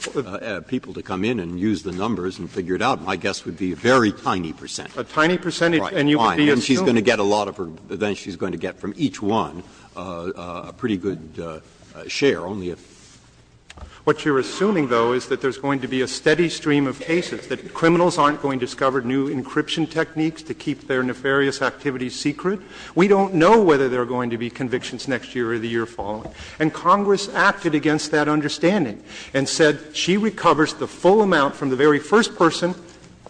people to come in and use the numbers and figure it out. My guess would be a very tiny percentage. Alito A tiny percentage, and you would be assuming. Breyer Right, fine. And she's going to get a lot of her, then she's going to get from each one a pretty good share, only if. Alito What you're assuming, though, is that there's going to be a steady stream of cases, that criminals aren't going to discover new encryption techniques to keep their nefarious activities secret. We don't know whether there are going to be convictions next year or the year following. And Congress acted against that understanding and said she recovers the full amount from the very first person,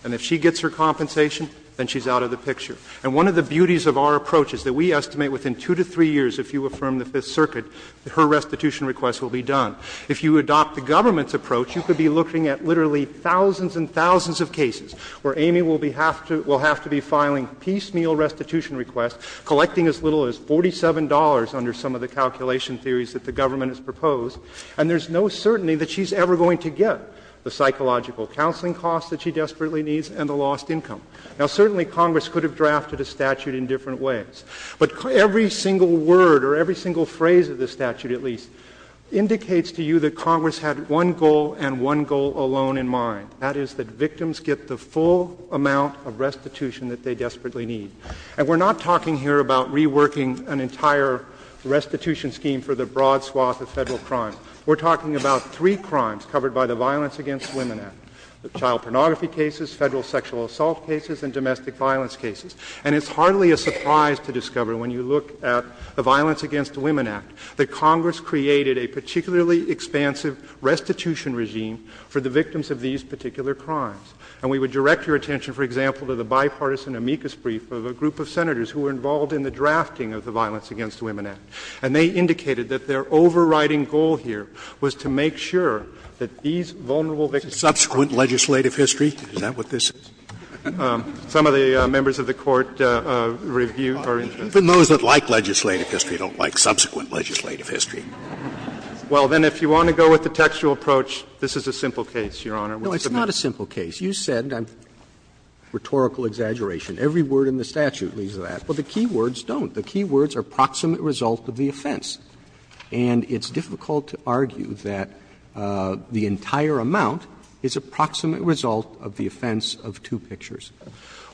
and if she gets her compensation, then she's out of the picture. And one of the beauties of our approach is that we estimate within two to three years, if you affirm the Fifth Circuit, that her restitution requests will be done. If you adopt the government's approach, you could be looking at literally thousands and thousands of cases where Amy will be have to, will have to be filing piecemeal restitution requests, collecting as little as $47 under some of the calculation theories that the government has proposed, and there's no certainty that she's ever going to get the psychological counseling costs that she desperately needs and the lost income. Now certainly Congress could have drafted a statute in different ways, but every single word or every single phrase of the statute, at least, indicates to you that Congress had one goal and one goal alone in mind, that is that victims get the full amount of restitution that they desperately need. And we're not talking here about reworking an entire restitution scheme for the broad swath of Federal crimes. We're talking about three crimes covered by the Violence Against Women Act, the child pornography cases, Federal sexual assault cases, and domestic violence cases. And it's hardly a surprise to discover when you look at the Violence Against Women Act that Congress created a particularly expansive restitution regime for the victims of these particular crimes. And we would direct your attention, for example, to the bipartisan amicus brief of a group of Senators who were involved in the drafting of the Violence Against Women Act. And they indicated that their overriding goal here was to make sure that these vulnerable victims were protected. Scalia, is that what this is? Some of the members of the Court review our interest. Even those that like legislative history don't like subsequent legislative history. Well, then if you want to go with the textual approach, this is a simple case, Your Honor. Roberts, no, it's not a simple case. You said, rhetorical exaggeration, every word in the statute leads to that. Well, the key words don't. The key words are proximate result of the offense. And it's difficult to argue that the entire amount is a proximate result of the offense of two pictures.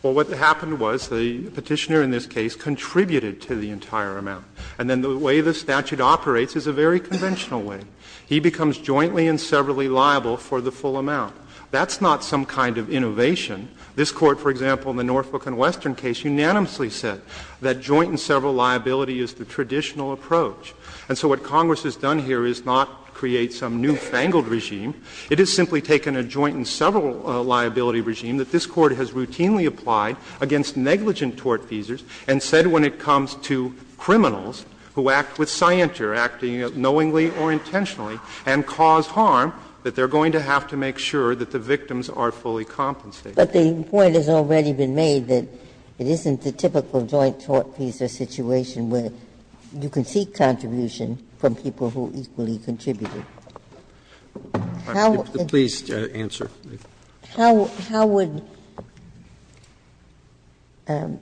Well, what happened was the Petitioner in this case contributed to the entire amount. And then the way the statute operates is a very conventional way. He becomes jointly and severally liable for the full amount. That's not some kind of innovation. This Court, for example, in the Norfolk and Western case, unanimously said that joint and several liability is the traditional approach. And so what Congress has done here is not create some newfangled regime. It has simply taken a joint and several liability regime that this Court has routinely applied against negligent tortfeasors and said when it comes to criminals who act with scienter, acting knowingly or intentionally, and cause harm, that they're going to have to make sure that the victims are fully compensated. Ginsburg-McCarthy But the point has already been made that it isn't the typical joint tortfeasor situation where you can seek contribution from people who equally contributed. How would the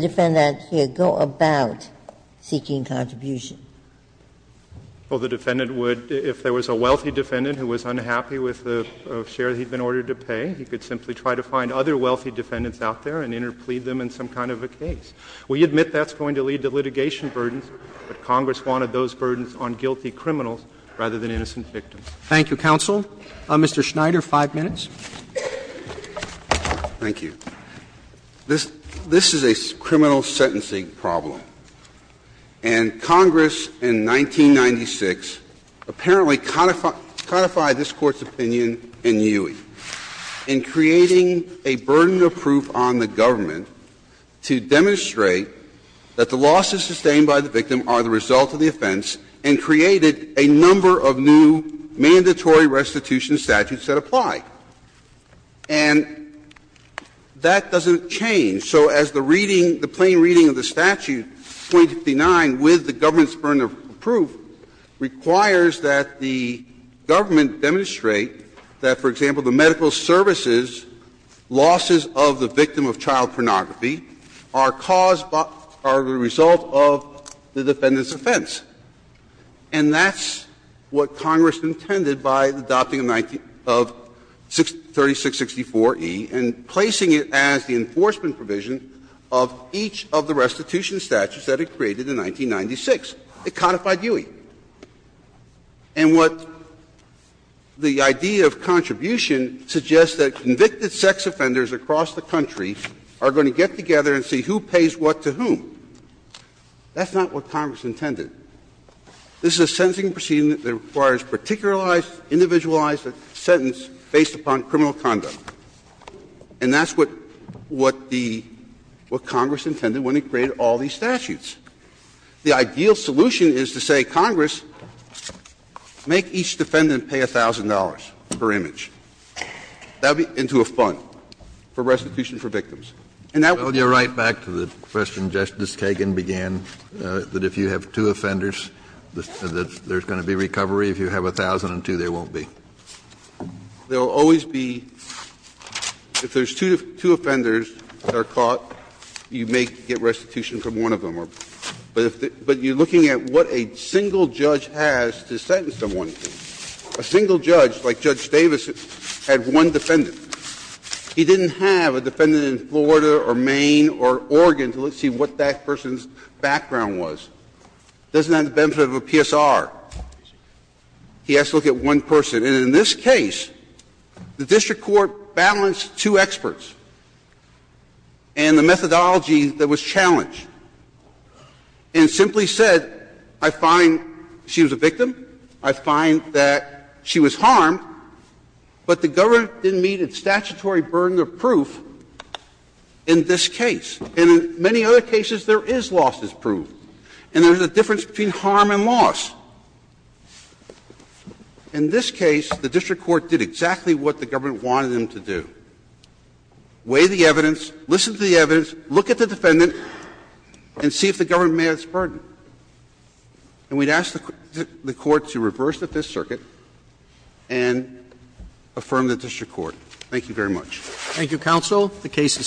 defendant here go about seeking contribution? Well, the defendant would, if there was a wealthy defendant who was unhappy with the other wealthy defendants out there and interplead them in some kind of a case. We admit that's going to lead to litigation burdens, but Congress wanted those burdens on guilty criminals rather than innocent victims. Roberts. Thank you, counsel. Mr. Schneider, 5 minutes. Thank you. This is a criminal sentencing problem. And Congress in 1996 apparently codified this Court's opinion in Ewing. In creating a burden of proof on the government to demonstrate that the losses sustained by the victim are the result of the offense, and created a number of new mandatory restitution statutes that apply. And that doesn't change. So as the reading, the plain reading of the statute, 259, with the government's burden of proof, requires that the government demonstrate that, for example, the medical services losses of the victim of child pornography are caused by the result of the defendant's offense. And that's what Congress intended by the adopting of 3664E and placing it as the enforcement provision of each of the restitution statutes that it created in 1996. It codified Ewing. And what the idea of contribution suggests that convicted sex offenders across the country are going to get together and see who pays what to whom. That's not what Congress intended. This is a sentencing proceeding that requires a particularized, individualized sentence based upon criminal conduct. And that's what the – what Congress intended when it created all these statutes. The ideal solution is to say, Congress, make each defendant pay $1,000 per image. That would be into a fund for restitution for victims. And that would be a fund for victims. Kennedy, right back to the question Justice Kagan began, that if you have two offenders, that there's going to be recovery. If you have 1,002, there won't be. There will always be – if there's two offenders that are caught, you may get restitution from one of them. But you're looking at what a single judge has to sentence someone to. A single judge, like Judge Davis, had one defendant. He didn't have a defendant in Florida or Maine or Oregon to see what that person's background was. It doesn't have the benefit of a PSR. He has to look at one person. And in this case, the district court balanced two experts and the methodology that was challenged, and simply said, I find she was a victim, I find that she was harmed, but the government didn't meet its statutory burden of proof in this case. And in many other cases, there is loss as proof, and there's a difference between harm and loss. In this case, the district court did exactly what the government wanted them to do. Weigh the evidence, listen to the evidence, look at the defendant, and see if the government met its burden. And we'd ask the Court to reverse the Fifth Circuit and affirm the district court. Thank you very much. Roberts. Thank you, counsel. The case is submitted.